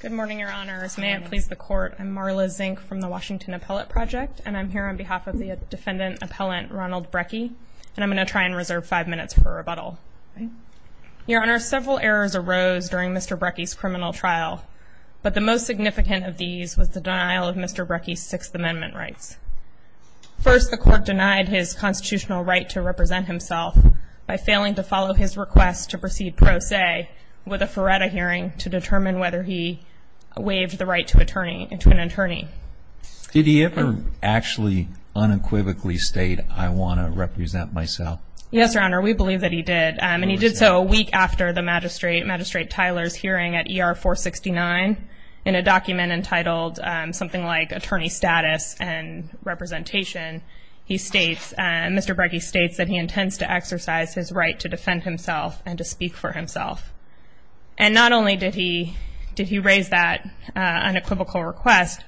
Good morning, Your Honors. May it please the Court, I'm Marla Zink from the Washington Appellate Project, and I'm here on behalf of the defendant-appellant Ronald Brekke, and I'm going to try and reserve five minutes for rebuttal. Your Honors, several errors arose during Mr. Brekke's criminal trial, but the most significant of these was the denial of Mr. Brekke's Sixth Amendment rights. First, the Court denied his constitutional right to represent himself by failing to follow his request to proceed pro se with a Feretta hearing to determine whether he waived the right to an attorney. Did he ever actually unequivocally state, I want to represent myself? Yes, Your Honor, we believe that he did, and he did so a week after the magistrate, Magistrate Tyler's hearing at ER 469 in a document entitled something like attorney status and representation. He states, Mr. Brekke states that he intends to exercise his right to defend himself and to speak for himself. And not only did he raise that unequivocal request,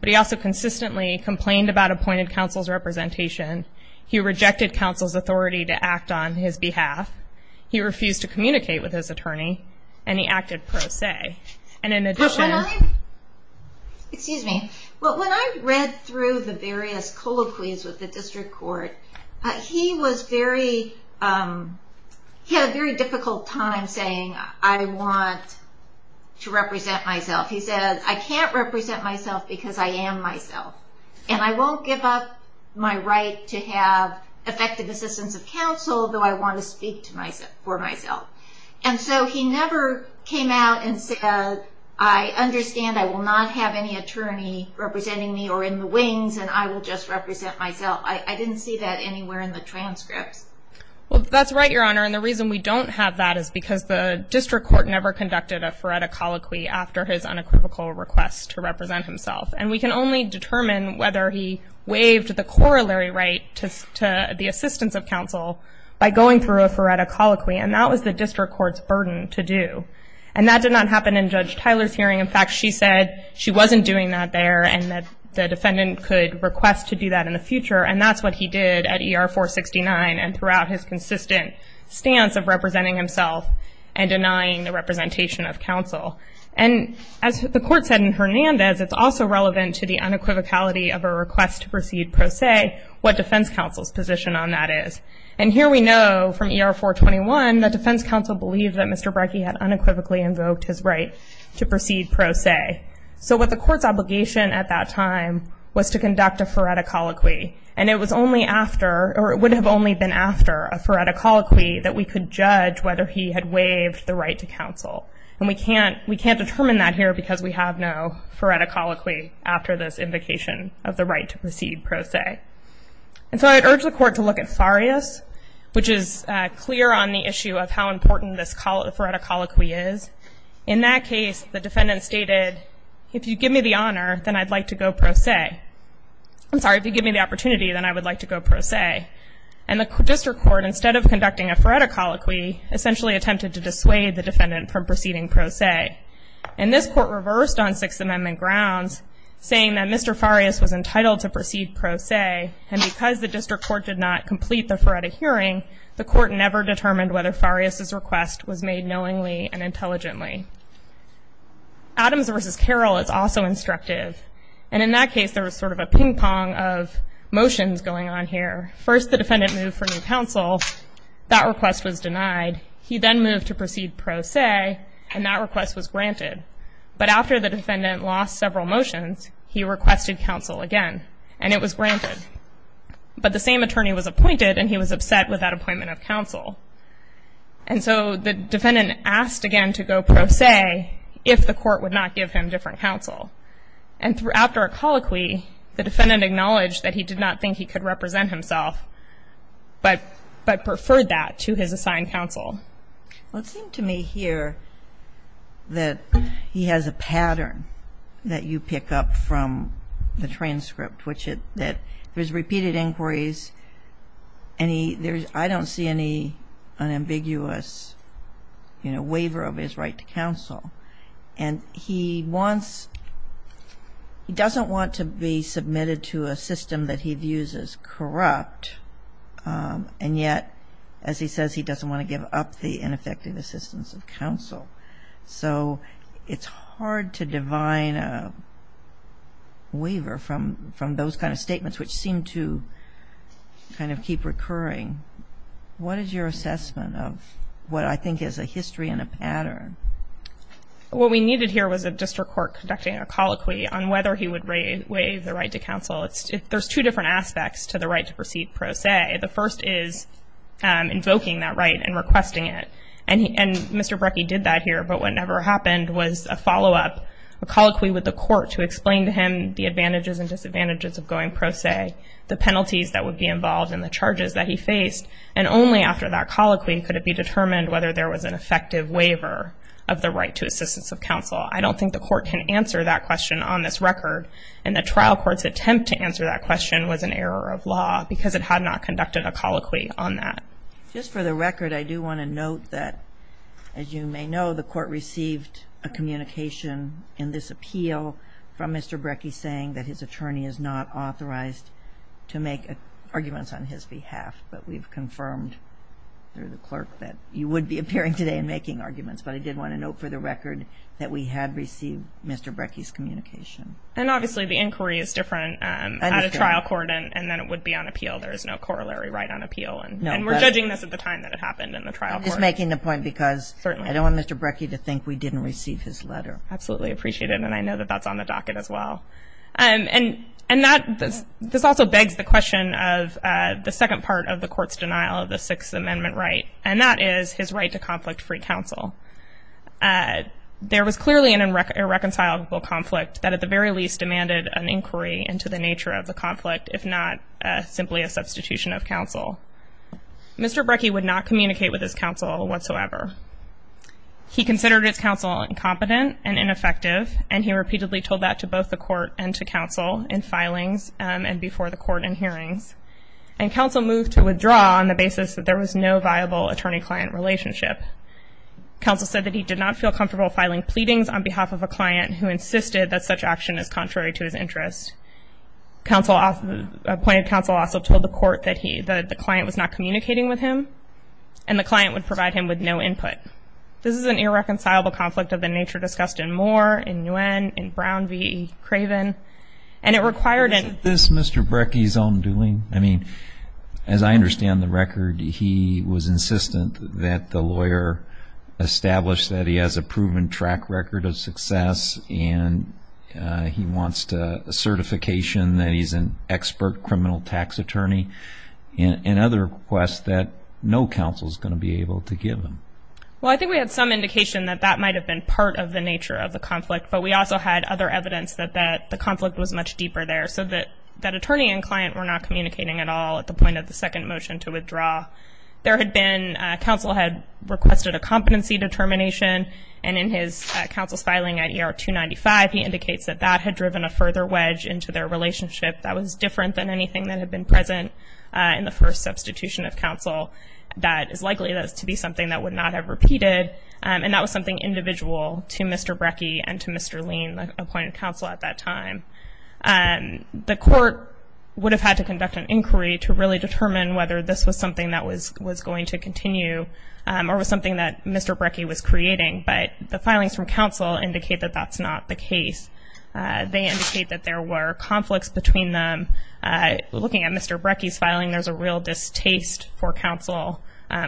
but he also consistently complained about appointed counsel's representation. He rejected counsel's authority to act on his behalf. He refused to communicate with his attorney, and he acted pro se. And in addition- Excuse me. When I read through the various colloquies with the District Court, he had a very difficult time saying, I want to represent myself. He said, I can't represent myself because I am myself, and I won't give up my right to have effective assistance of counsel, though I want to speak for myself. And so he never came out and said, I understand I will not have any attorney representing me or in the wings, and I will just represent myself. I didn't see that anywhere in the transcripts. Well, that's right, Your Honor. And the reason we don't have that is because the District Court never conducted a Feretta colloquy after his unequivocal request to represent himself. And we can only determine whether he waived the corollary right to the assistance of counsel by going through a Feretta colloquy. And that was the District Court's burden to do. And that did not happen in Judge Tyler's hearing. In fact, she said she wasn't doing that there and that the defendant could request to do that in the future. And that's what he did at ER-469 and throughout his consistent stance of representing himself and denying the representation of counsel. And as the Court said in Hernandez, it's also relevant to the unequivocality of a request to proceed pro se what defense counsel's position on that is. And here we know from ER-421 that defense counsel believed that Mr. Brekke had unequivocally invoked his right to proceed pro se. So what the Court's obligation at that time was to conduct a Feretta colloquy. And it was only after or it would have only been after a Feretta colloquy that we could judge whether he had waived the right to counsel. And we can't determine that here because we have no Feretta colloquy after this invocation of the right to proceed pro se. And so I'd urge the Court to look at Farias, which is clear on the issue of how important this Feretta colloquy is. In that case, the defendant stated, if you give me the honor, then I'd like to go pro se. I'm sorry, if you give me the opportunity, then I would like to go pro se. And the district court, instead of conducting a Feretta colloquy, essentially attempted to dissuade the defendant from proceeding pro se. And this Court reversed on Sixth Amendment grounds, saying that Mr. Farias was entitled to proceed pro se. And because the district court did not complete the Feretta hearing, the Court never determined whether Farias' request was made knowingly and intelligently. Adams v. Carroll is also instructive. And in that case, there was sort of a ping-pong of motions going on here. First, the defendant moved for new counsel. That request was denied. He then moved to proceed pro se, and that request was granted. But after the defendant lost several motions, he requested counsel again, and it was granted. But the same attorney was appointed, and he was upset with that appointment of counsel. And so the defendant asked again to go pro se if the Court would not give him different counsel. And after a colloquy, the defendant acknowledged that he did not think he could represent himself, but preferred that to his assigned counsel. Well, it seemed to me here that he has a pattern that you pick up from the transcript, which is that there's repeated inquiries. I don't see any unambiguous, you know, waiver of his right to counsel. And he wants he doesn't want to be submitted to a system that he views as corrupt. And yet, as he says, he doesn't want to give up the ineffective assistance of counsel. So it's hard to divine a waiver from those kind of statements, which seem to kind of keep recurring. What is your assessment of what I think is a history and a pattern? What we needed here was a district court conducting a colloquy on whether he would waive the right to counsel. There's two different aspects to the right to proceed pro se. The first is invoking that right and requesting it. And Mr. Brecke did that here. But what never happened was a follow-up, a colloquy with the court to explain to him the advantages and disadvantages of going pro se, the penalties that would be involved in the charges that he faced. And only after that colloquy could it be determined whether there was an effective waiver of the right to assistance of counsel. I don't think the court can answer that question on this record. And the trial court's attempt to answer that question was an error of law because it had not conducted a colloquy on that. Just for the record, I do want to note that, as you may know, the court received a communication in this appeal from Mr. Brecke saying that his attorney is not authorized to make arguments on his behalf. But we've confirmed through the clerk that you would be appearing today and making arguments. But I did want to note for the record that we had received Mr. Brecke's communication. And, obviously, the inquiry is different at a trial court. And then it would be on appeal. There is no corollary right on appeal. And we're judging this at the time that it happened in the trial court. I'm just making the point because I don't want Mr. Brecke to think we didn't receive his letter. Absolutely appreciate it. And I know that that's on the docket as well. And this also begs the question of the second part of the court's denial of the Sixth Amendment right, and that is his right to conflict-free counsel. There was clearly an irreconcilable conflict that, at the very least, demanded an inquiry into the nature of the conflict, if not simply a substitution of counsel. Mr. Brecke would not communicate with his counsel whatsoever. He considered his counsel incompetent and ineffective, and he repeatedly told that to both the court and to counsel in filings and before the court in hearings. And counsel moved to withdraw on the basis that there was no viable attorney-client relationship. Counsel said that he did not feel comfortable filing pleadings on behalf of a client who insisted that such action is contrary to his interests. Appointed counsel also told the court that the client was not communicating with him, and the client would provide him with no input. This is an irreconcilable conflict of the nature discussed in Moore, in Nguyen, in Brown v. Craven. Isn't this Mr. Brecke's own doing? I mean, as I understand the record, he was insistent that the lawyer establish that he has a proven track record of success and he wants a certification that he's an expert criminal tax attorney and other requests that no counsel is going to be able to give him. Well, I think we had some indication that that might have been part of the nature of the conflict, but we also had other evidence that the conflict was much deeper there, so that attorney and client were not communicating at all at the point of the second motion to withdraw. There had been counsel had requested a competency determination, and in his counsel's filing at ER 295, he indicates that that had driven a further wedge into their relationship that was different than anything that had been present in the first substitution of counsel that is likely to be something that would not have repeated, and that was something individual to Mr. Brecke and to Mr. Lean, the appointed counsel at that time. The court would have had to conduct an inquiry to really determine whether this was something that was going to continue or was something that Mr. Brecke was creating, but the filings from counsel indicate that that's not the case. They indicate that there were conflicts between them. Looking at Mr. Brecke's filing, there's a real distaste for counsel,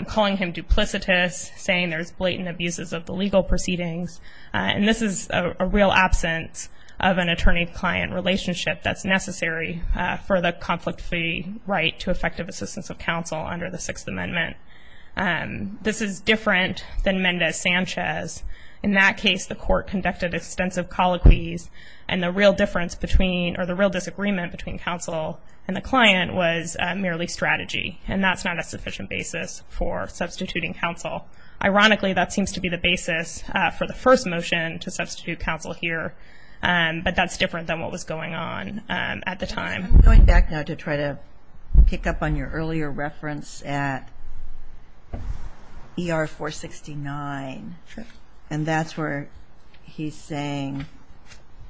calling him duplicitous, saying there's blatant abuses of the legal proceedings, and this is a real absence of an attorney-client relationship that's necessary for the conflict-free right to effective assistance of counsel under the Sixth Amendment. This is different than Mendez-Sanchez. In that case, the court conducted extensive colloquies, and the real disagreement between counsel and the client was merely strategy, and that's not a sufficient basis for substituting counsel. Ironically, that seems to be the basis for the first motion to substitute counsel here, but that's different than what was going on at the time. I'm going back now to try to pick up on your earlier reference at ER 469, and that's where he's saying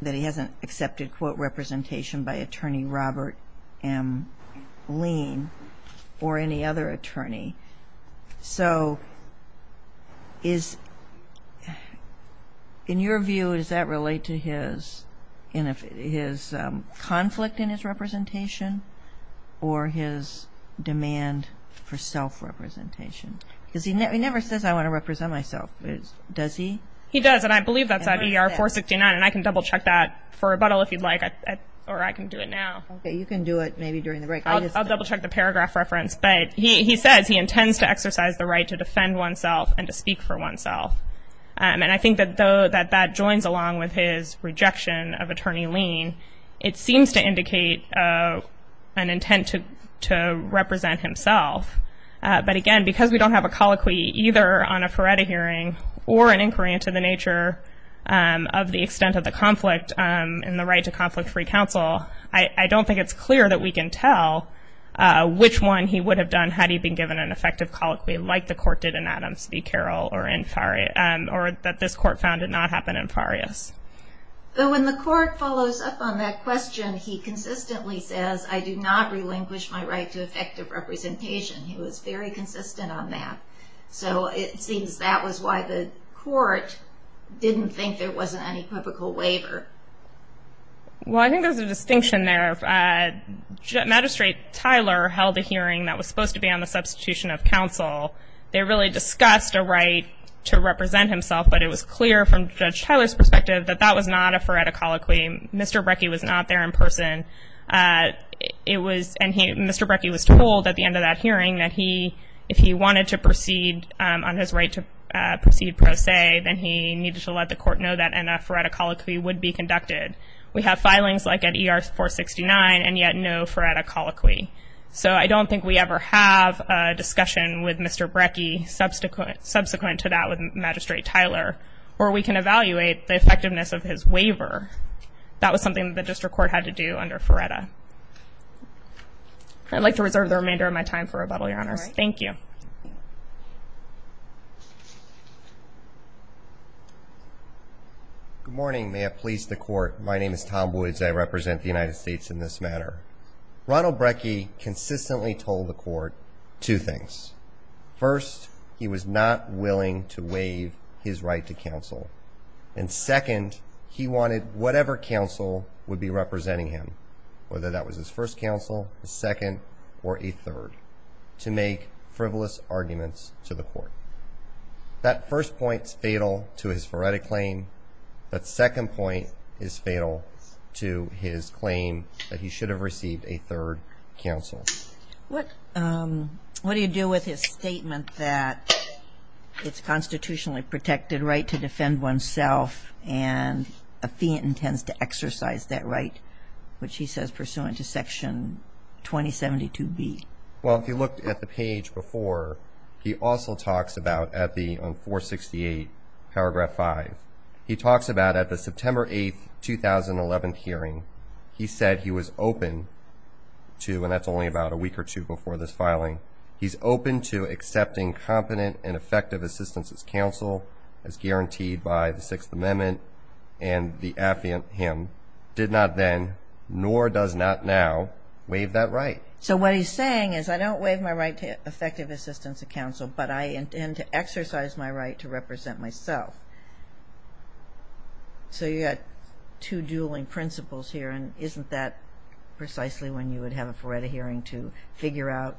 that he hasn't accepted, quote, representation by attorney Robert M. Lean or any other attorney. So in your view, does that relate to his conflict in his representation or his demand for self-representation? Because he never says, I want to represent myself. Does he? He does, and I believe that's at ER 469, and I can double-check that for rebuttal if you'd like, or I can do it now. Okay, you can do it maybe during the break. I'll double-check the paragraph reference, but he says he intends to exercise the right to defend oneself and to speak for oneself, and I think that that joins along with his rejection of attorney Lean. It seems to indicate an intent to represent himself, but again, because we don't have a colloquy either on a Feretta hearing or an inquiry into the nature of the extent of the conflict and the right to conflict-free counsel, I don't think it's clear that we can tell which one he would have done had he been given an effective colloquy like the court did in Adams v. Carroll or that this court found did not happen in Farias. So when the court follows up on that question, he consistently says, I do not relinquish my right to effective representation. He was very consistent on that. So it seems that was why the court didn't think there wasn't any biblical waiver. Well, I think there's a distinction there. Magistrate Tyler held a hearing that was supposed to be on the substitution of counsel. They really discussed a right to represent himself, but it was clear from Judge Tyler's perspective that that was not a Feretta colloquy. Mr. Brekke was not there in person. Mr. Brekke was told at the end of that hearing that if he wanted to proceed on his right to proceed pro se, then he needed to let the court know that a Feretta colloquy would be conducted. We have filings like at ER 469 and yet no Feretta colloquy. So I don't think we ever have a discussion with Mr. Brekke subsequent to that with Magistrate Tyler where we can evaluate the effectiveness of his waiver. That was something the district court had to do under Feretta. I'd like to reserve the remainder of my time for rebuttal, Your Honors. Thank you. Good morning. May it please the court. My name is Tom Woods. I represent the United States in this matter. Ronald Brekke consistently told the court two things. First, he was not willing to waive his right to counsel. And second, he wanted whatever counsel would be representing him, whether that was his first counsel, his second, or a third, to make frivolous arguments to the court. That first point is fatal to his Feretta claim. That second point is fatal to his claim that he should have received a third counsel. What do you do with his statement that it's a constitutionally protected right to defend oneself and a fiend intends to exercise that right, which he says pursuant to Section 2072B? Well, if you looked at the page before, he also talks about at 468, Paragraph 5, he talks about at the September 8, 2011 hearing, he said he was open to, and that's only about a week or two before this filing, he's open to accepting competent and effective assistance as counsel as guaranteed by the Sixth Amendment, and the affiant him did not then, nor does not now, waive that right. So what he's saying is I don't waive my right to effective assistance of counsel, but I intend to exercise my right to represent myself. So you've got two dueling principles here, and isn't that precisely when you would have a Feretta hearing to figure out,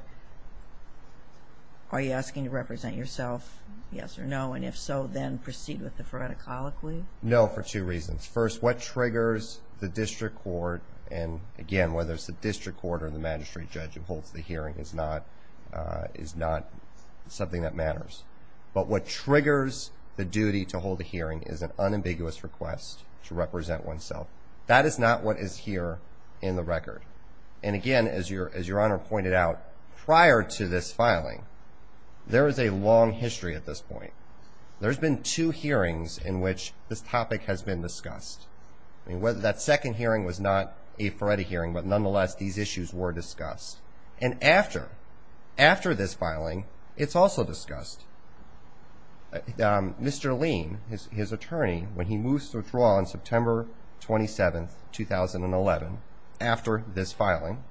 are you asking to represent yourself, yes or no, and if so, then proceed with the Feretta colloquy? No, for two reasons. First, what triggers the district court, and again, whether it's the district court or the magistrate judge who holds the hearing is not something that matters, but what triggers the duty to hold the hearing is an unambiguous request to represent oneself. That is not what is here in the record, and again, as your Honor pointed out, prior to this filing, there is a long history at this point. There's been two hearings in which this topic has been discussed. That second hearing was not a Feretta hearing, but nonetheless, these issues were discussed, and after this filing, it's also discussed. Mr. Lean, his attorney, when he moves to withdraw on September 27, 2011, after this filing,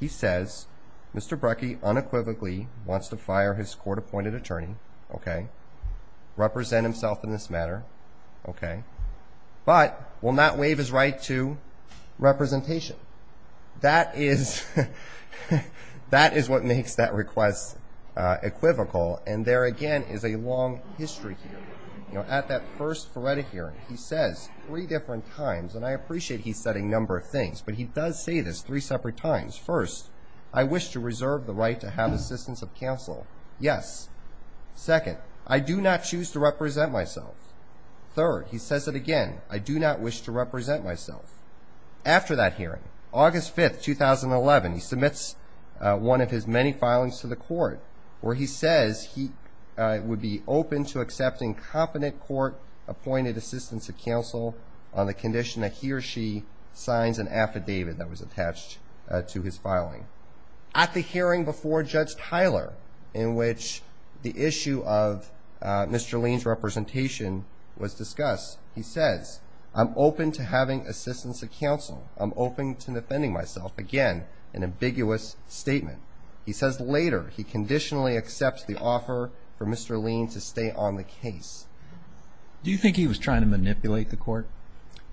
he says Mr. Brecke unequivocally wants to fire his court-appointed attorney, okay, represent himself in this matter, okay, but will not waive his right to representation. That is what makes that request equivocal, and there again is a long history here. You know, at that first Feretta hearing, he says three different times, and I appreciate he's said a number of things, but he does say this three separate times. First, I wish to reserve the right to have assistance of counsel. Yes. Second, I do not choose to represent myself. Third, he says it again, I do not wish to represent myself. After that hearing, August 5, 2011, he submits one of his many filings to the court where he says he would be open to accepting competent court-appointed assistance of counsel on the condition that he or she signs an affidavit that was attached to his filing. At the hearing before Judge Tyler in which the issue of Mr. Lean's representation was discussed, he says, I'm open to having assistance of counsel. I'm open to defending myself. Again, an ambiguous statement. He says later he conditionally accepts the offer for Mr. Lean to stay on the case. Do you think he was trying to manipulate the court?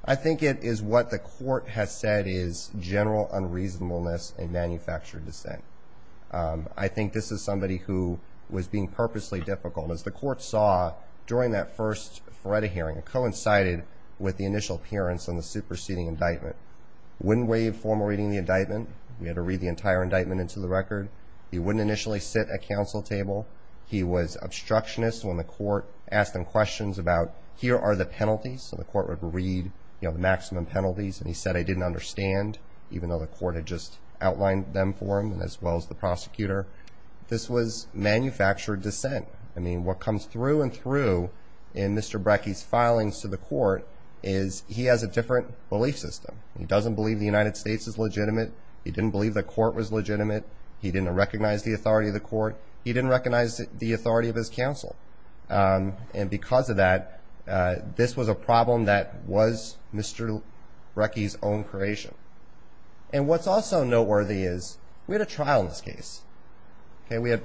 I think it is what the court has said is general unreasonableness and manufactured dissent. I think this is somebody who was being purposely difficult, and as the court saw during that first Feretta hearing, it coincided with the initial appearance on the superseding indictment. Wind wave formal reading the indictment. We had to read the entire indictment into the record. He wouldn't initially sit at counsel table. He was obstructionist when the court asked him questions about here are the penalties, and the court would read the maximum penalties, and he said, I didn't understand, even though the court had just outlined them for him as well as the prosecutor. This was manufactured dissent. I mean, what comes through and through in Mr. Brekke's filings to the court is he has a different belief system. He doesn't believe the United States is legitimate. He didn't believe the court was legitimate. He didn't recognize the authority of the court. He didn't recognize the authority of his counsel. And because of that, this was a problem that was Mr. Brekke's own creation. And what's also noteworthy is we had a trial in this case. We had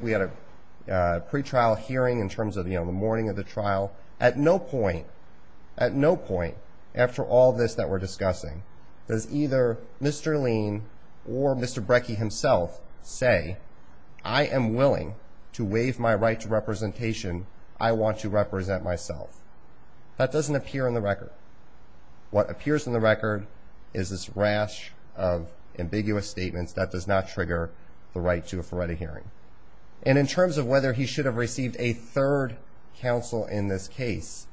a pretrial hearing in terms of the morning of the trial. At no point, at no point after all this that we're discussing does either Mr. Lien or Mr. Brekke himself say, I am willing to waive my right to representation. I want to represent myself. That doesn't appear in the record. What appears in the record is this rash of ambiguous statements that does not trigger the right to a forenic hearing. And in terms of whether he should have received a third counsel in this case,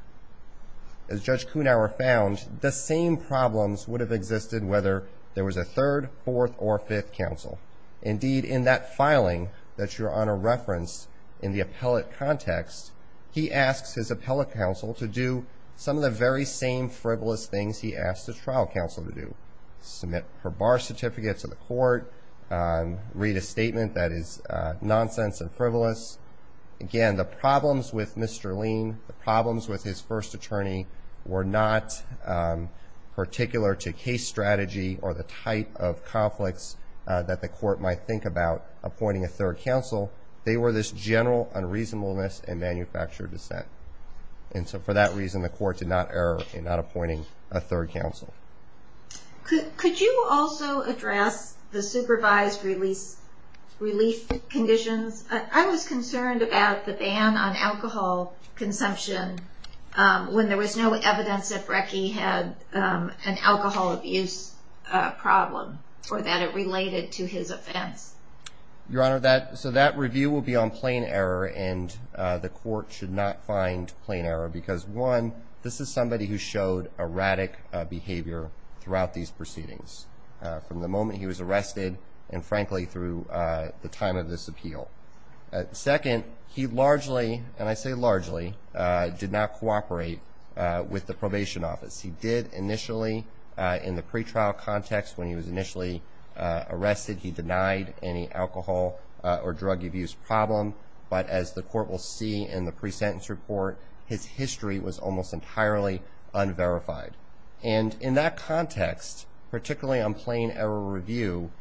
as Judge Kuhnauer found, the same problems would have existed whether there was a third, fourth, or fifth counsel. Indeed, in that filing that you're on a reference in the appellate context, he asks his appellate counsel to do some of the very same frivolous things he asked his trial counsel to do, submit her bar certificate to the court, read a statement that is nonsense and frivolous. Again, the problems with Mr. Lien, the problems with his first attorney, were not particular to case strategy or the type of conflicts that the court might think about appointing a third counsel. They were this general unreasonableness and manufactured dissent. And so for that reason, the court did not err in not appointing a third counsel. Could you also address the supervised relief conditions? I was concerned about the ban on alcohol consumption when there was no evidence that Brekke had an alcohol abuse problem or that it related to his offense. Your Honor, so that review will be on plain error, and the court should not find plain error because, one, this is somebody who showed erratic behavior throughout these proceedings from the moment he was arrested and, frankly, through the time of this appeal. Second, he largely, and I say largely, did not cooperate with the probation office. He did initially in the pretrial context when he was initially arrested. He denied any alcohol or drug abuse problem, but as the court will see in the pre-sentence report, his history was almost entirely unverified. And in that context, particularly on plain error review,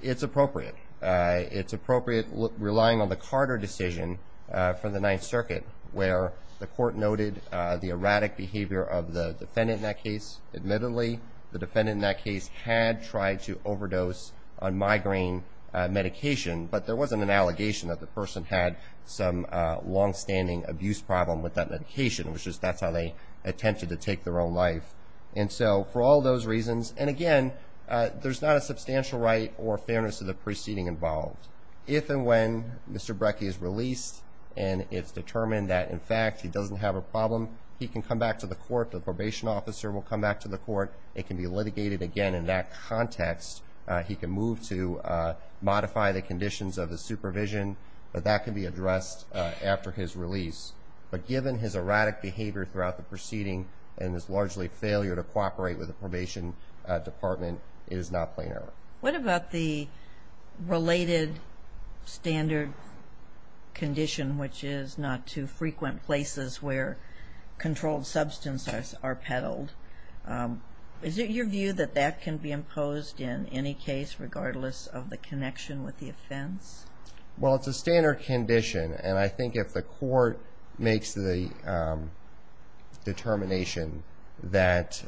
it's appropriate. It's appropriate relying on the Carter decision for the Ninth Circuit, where the court noted the erratic behavior of the defendant in that case. Admittedly, the defendant in that case had tried to overdose on migraine medication, but there wasn't an allegation that the person had some longstanding abuse problem with that medication. It was just that's how they attempted to take their own life. And so for all those reasons, and again, there's not a substantial right or fairness to the proceeding involved. If and when Mr. Brekke is released and it's determined that, in fact, he doesn't have a problem, he can come back to the court. The probation officer will come back to the court. It can be litigated again in that context. He can move to modify the conditions of the supervision, but that can be addressed after his release. But given his erratic behavior throughout the proceeding and his largely failure to cooperate with the probation department, it is not plain error. What about the related standard condition, which is not to frequent places where controlled substances are peddled? Is it your view that that can be imposed in any case, regardless of the connection with the offense? Well, it's a standard condition, and I think if the court makes the determination that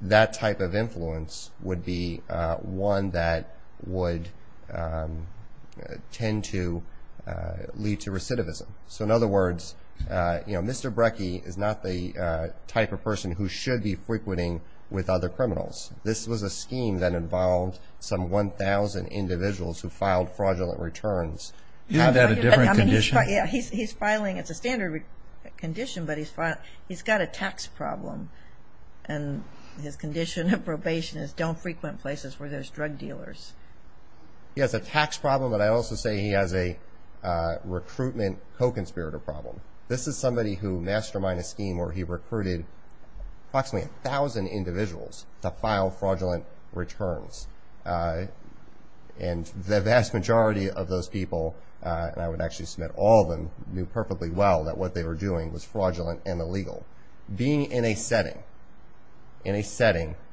that type of influence would be one that would tend to lead to recidivism. So in other words, Mr. Brekke is not the type of person who should be frequenting with other criminals. This was a scheme that involved some 1,000 individuals who filed fraudulent returns. Isn't that a different condition? Yeah, he's filing. It's a standard condition, but he's got a tax problem, and his condition of probation is don't frequent places where there's drug dealers. He has a tax problem, but I also say he has a recruitment co-conspirator problem. This is somebody who masterminded a scheme where he recruited approximately 1,000 individuals to file fraudulent returns, and the vast majority of those people, and I would actually submit all of them, knew perfectly well that what they were doing was fraudulent and illegal. Being in a setting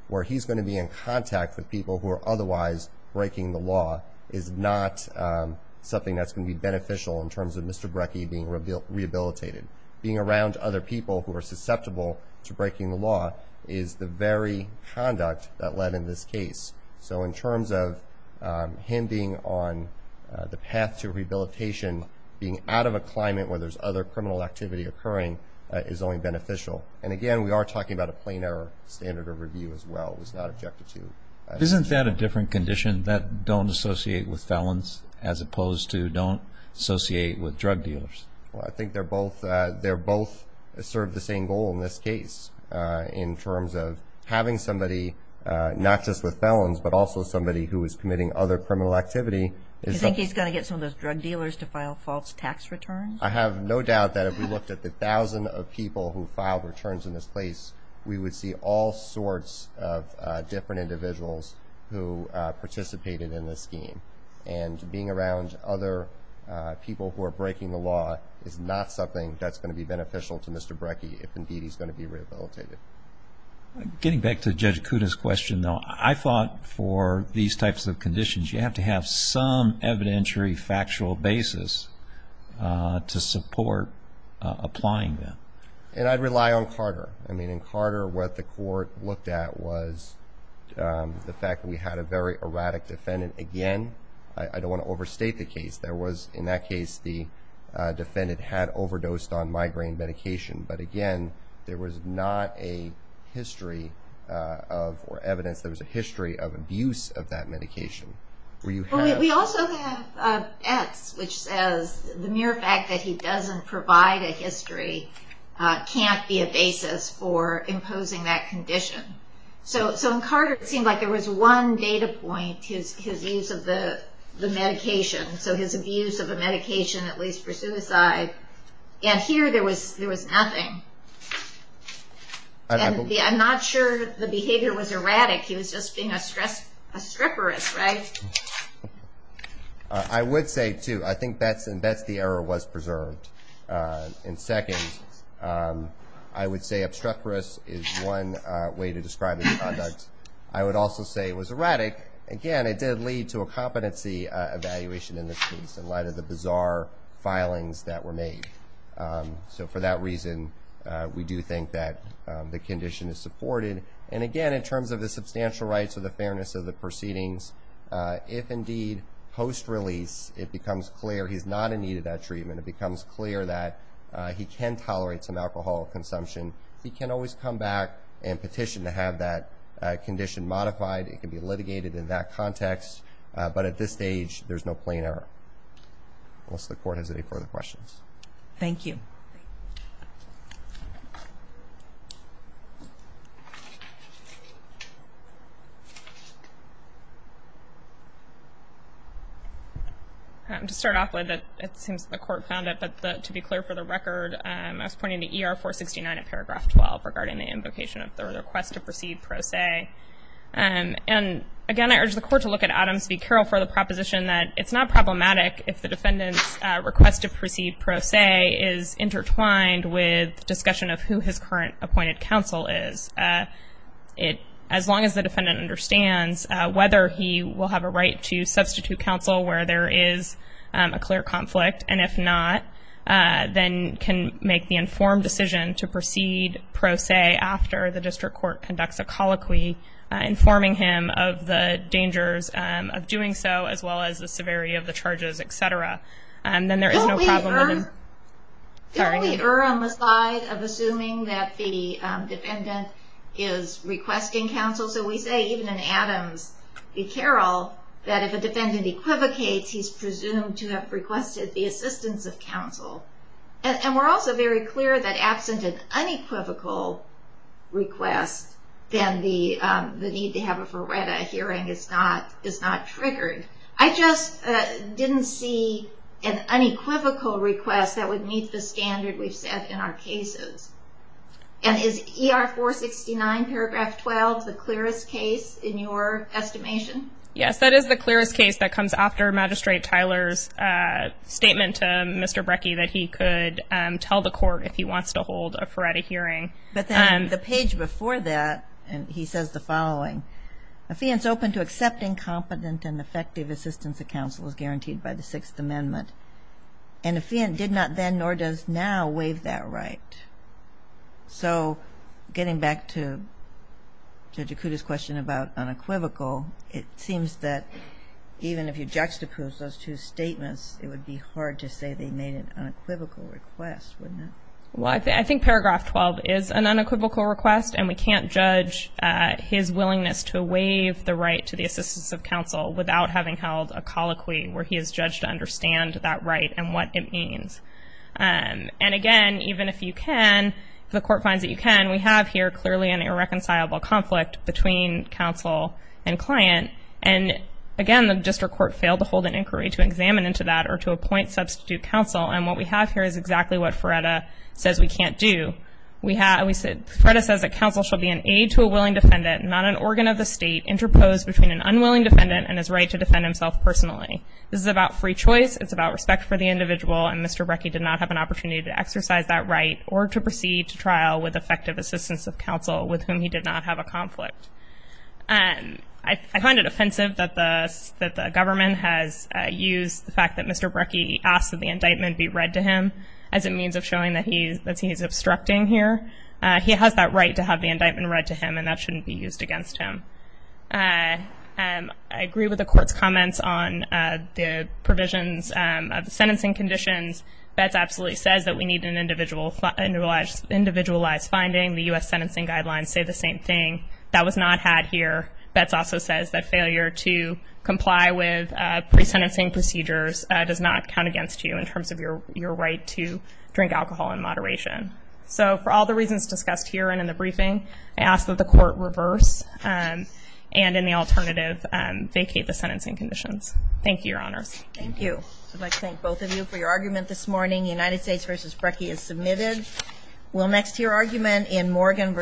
where he's going to be in contact with people who are otherwise breaking the law is not something that's going to be beneficial in terms of Mr. Brekke being rehabilitated. Being around other people who are susceptible to breaking the law is the very conduct that led in this case. So in terms of him being on the path to rehabilitation, being out of a climate where there's other criminal activity occurring is only beneficial. And again, we are talking about a plain error standard of review as well. It was not objected to. Isn't that a different condition, that don't associate with felons as opposed to don't associate with drug dealers? Well, I think they're both served the same goal in this case in terms of having somebody not just with felons but also somebody who is committing other criminal activity. You think he's going to get some of those drug dealers to file false tax returns? I have no doubt that if we looked at the 1,000 people who filed returns in this place, we would see all sorts of different individuals who participated in this scheme. And being around other people who are breaking the law is not something that's going to be beneficial to Mr. Brekke if indeed he's going to be rehabilitated. Getting back to Judge Kuda's question, though, I thought for these types of conditions, you have to have some evidentiary factual basis to support applying them. And I'd rely on Carter. I mean, in Carter, what the court looked at was the fact that we had a very erratic defendant. Again, I don't want to overstate the case. In that case, the defendant had overdosed on migraine medication. But again, there was not a history of evidence. There was a history of abuse of that medication. We also have Etz, which says the mere fact that he doesn't provide a history can't be a basis for imposing that condition. So in Carter, it seemed like there was one data point, his use of the medication, so his abuse of the medication, at least for suicide. And here there was nothing. I'm not sure the behavior was erratic. He was just being a stripper, right? I would say, too, I think that's the error was preserved. And second, I would say obstreperous is one way to describe the conduct. I would also say it was erratic. Again, it did lead to a competency evaluation in this case in light of the bizarre filings that were made. So for that reason, we do think that the condition is supported. And again, in terms of the substantial rights or the fairness of the proceedings, if indeed post-release it becomes clear he's not in need of that treatment, it becomes clear that he can tolerate some alcohol consumption, he can always come back and petition to have that condition modified. It can be litigated in that context. But at this stage, there's no plain error. Unless the Court has any further questions. Thank you. To start off with, it seems the Court found it, but to be clear for the record, I was pointing to ER 469 of paragraph 12 regarding the invocation of the request to proceed pro se. And again, I urge the Court to look at Adams v. Carroll for the proposition that it's not problematic if the defendant's request to proceed pro se is intertwined with discussion of who his current appointed counsel is. As long as the defendant understands whether he will have a right to substitute counsel where there is a clear conflict, and if not, then can make the informed decision to proceed pro se after the District Court conducts a colloquy informing him of the dangers of doing so, as well as the severity of the charges, etc. Then there is no problem with him. Don't we err on the side of assuming that the defendant is requesting counsel? So we say even in Adams v. Carroll that if a defendant equivocates, he's presumed to have requested the assistance of counsel. And we're also very clear that absent an unequivocal request, then the need to have a verreta hearing is not triggered. I just didn't see an unequivocal request that would meet the standard we've set in our cases. And is ER 469 paragraph 12 the clearest case in your estimation? Yes, that is the clearest case that comes after Magistrate Tyler's statement to Mr. Brekke that he could tell the court if he wants to hold a verreta hearing. But then the page before that, he says the following, a fiend is open to accepting competent and effective assistance of counsel as guaranteed by the Sixth Amendment. And a fiend did not then nor does now waive that right. So getting back to Judge Okuda's question about unequivocal, it seems that even if you juxtapose those two statements, it would be hard to say they made an unequivocal request, wouldn't it? Well, I think paragraph 12 is an unequivocal request, and we can't judge his willingness to waive the right to the assistance of counsel without having held a colloquy where he is judged to understand that right and what it means. And again, even if you can, if the court finds that you can, we have here clearly an irreconcilable conflict between counsel and client. And again, the district court failed to hold an inquiry to examine into that or to appoint substitute counsel. And what we have here is exactly what verreta says we can't do. Verreta says that counsel shall be an aid to a willing defendant, not an organ of the state, interposed between an unwilling defendant and his right to defend himself personally. This is about free choice. It's about respect for the individual. And Mr. Brecke did not have an opportunity to exercise that right or to proceed to trial with effective assistance of counsel with whom he did not have a conflict. I find it offensive that the government has used the fact that Mr. Brecke asked that the indictment be read to him as a means of showing that he is obstructing here. He has that right to have the indictment read to him, and that shouldn't be used against him. I agree with the court's comments on the provisions of the sentencing conditions. Betz absolutely says that we need an individualized finding. The U.S. sentencing guidelines say the same thing. That was not had here. Betz also says that failure to comply with pre-sentencing procedures does not count against you in terms of your right to drink alcohol in moderation. So for all the reasons discussed here and in the briefing, I ask that the court reverse and in the alternative, vacate the sentencing conditions. Thank you, Your Honors. Thank you. I'd like to thank both of you for your argument this morning. United States v. Brecke is submitted. We'll next hear argument in Morgan v. Estrella.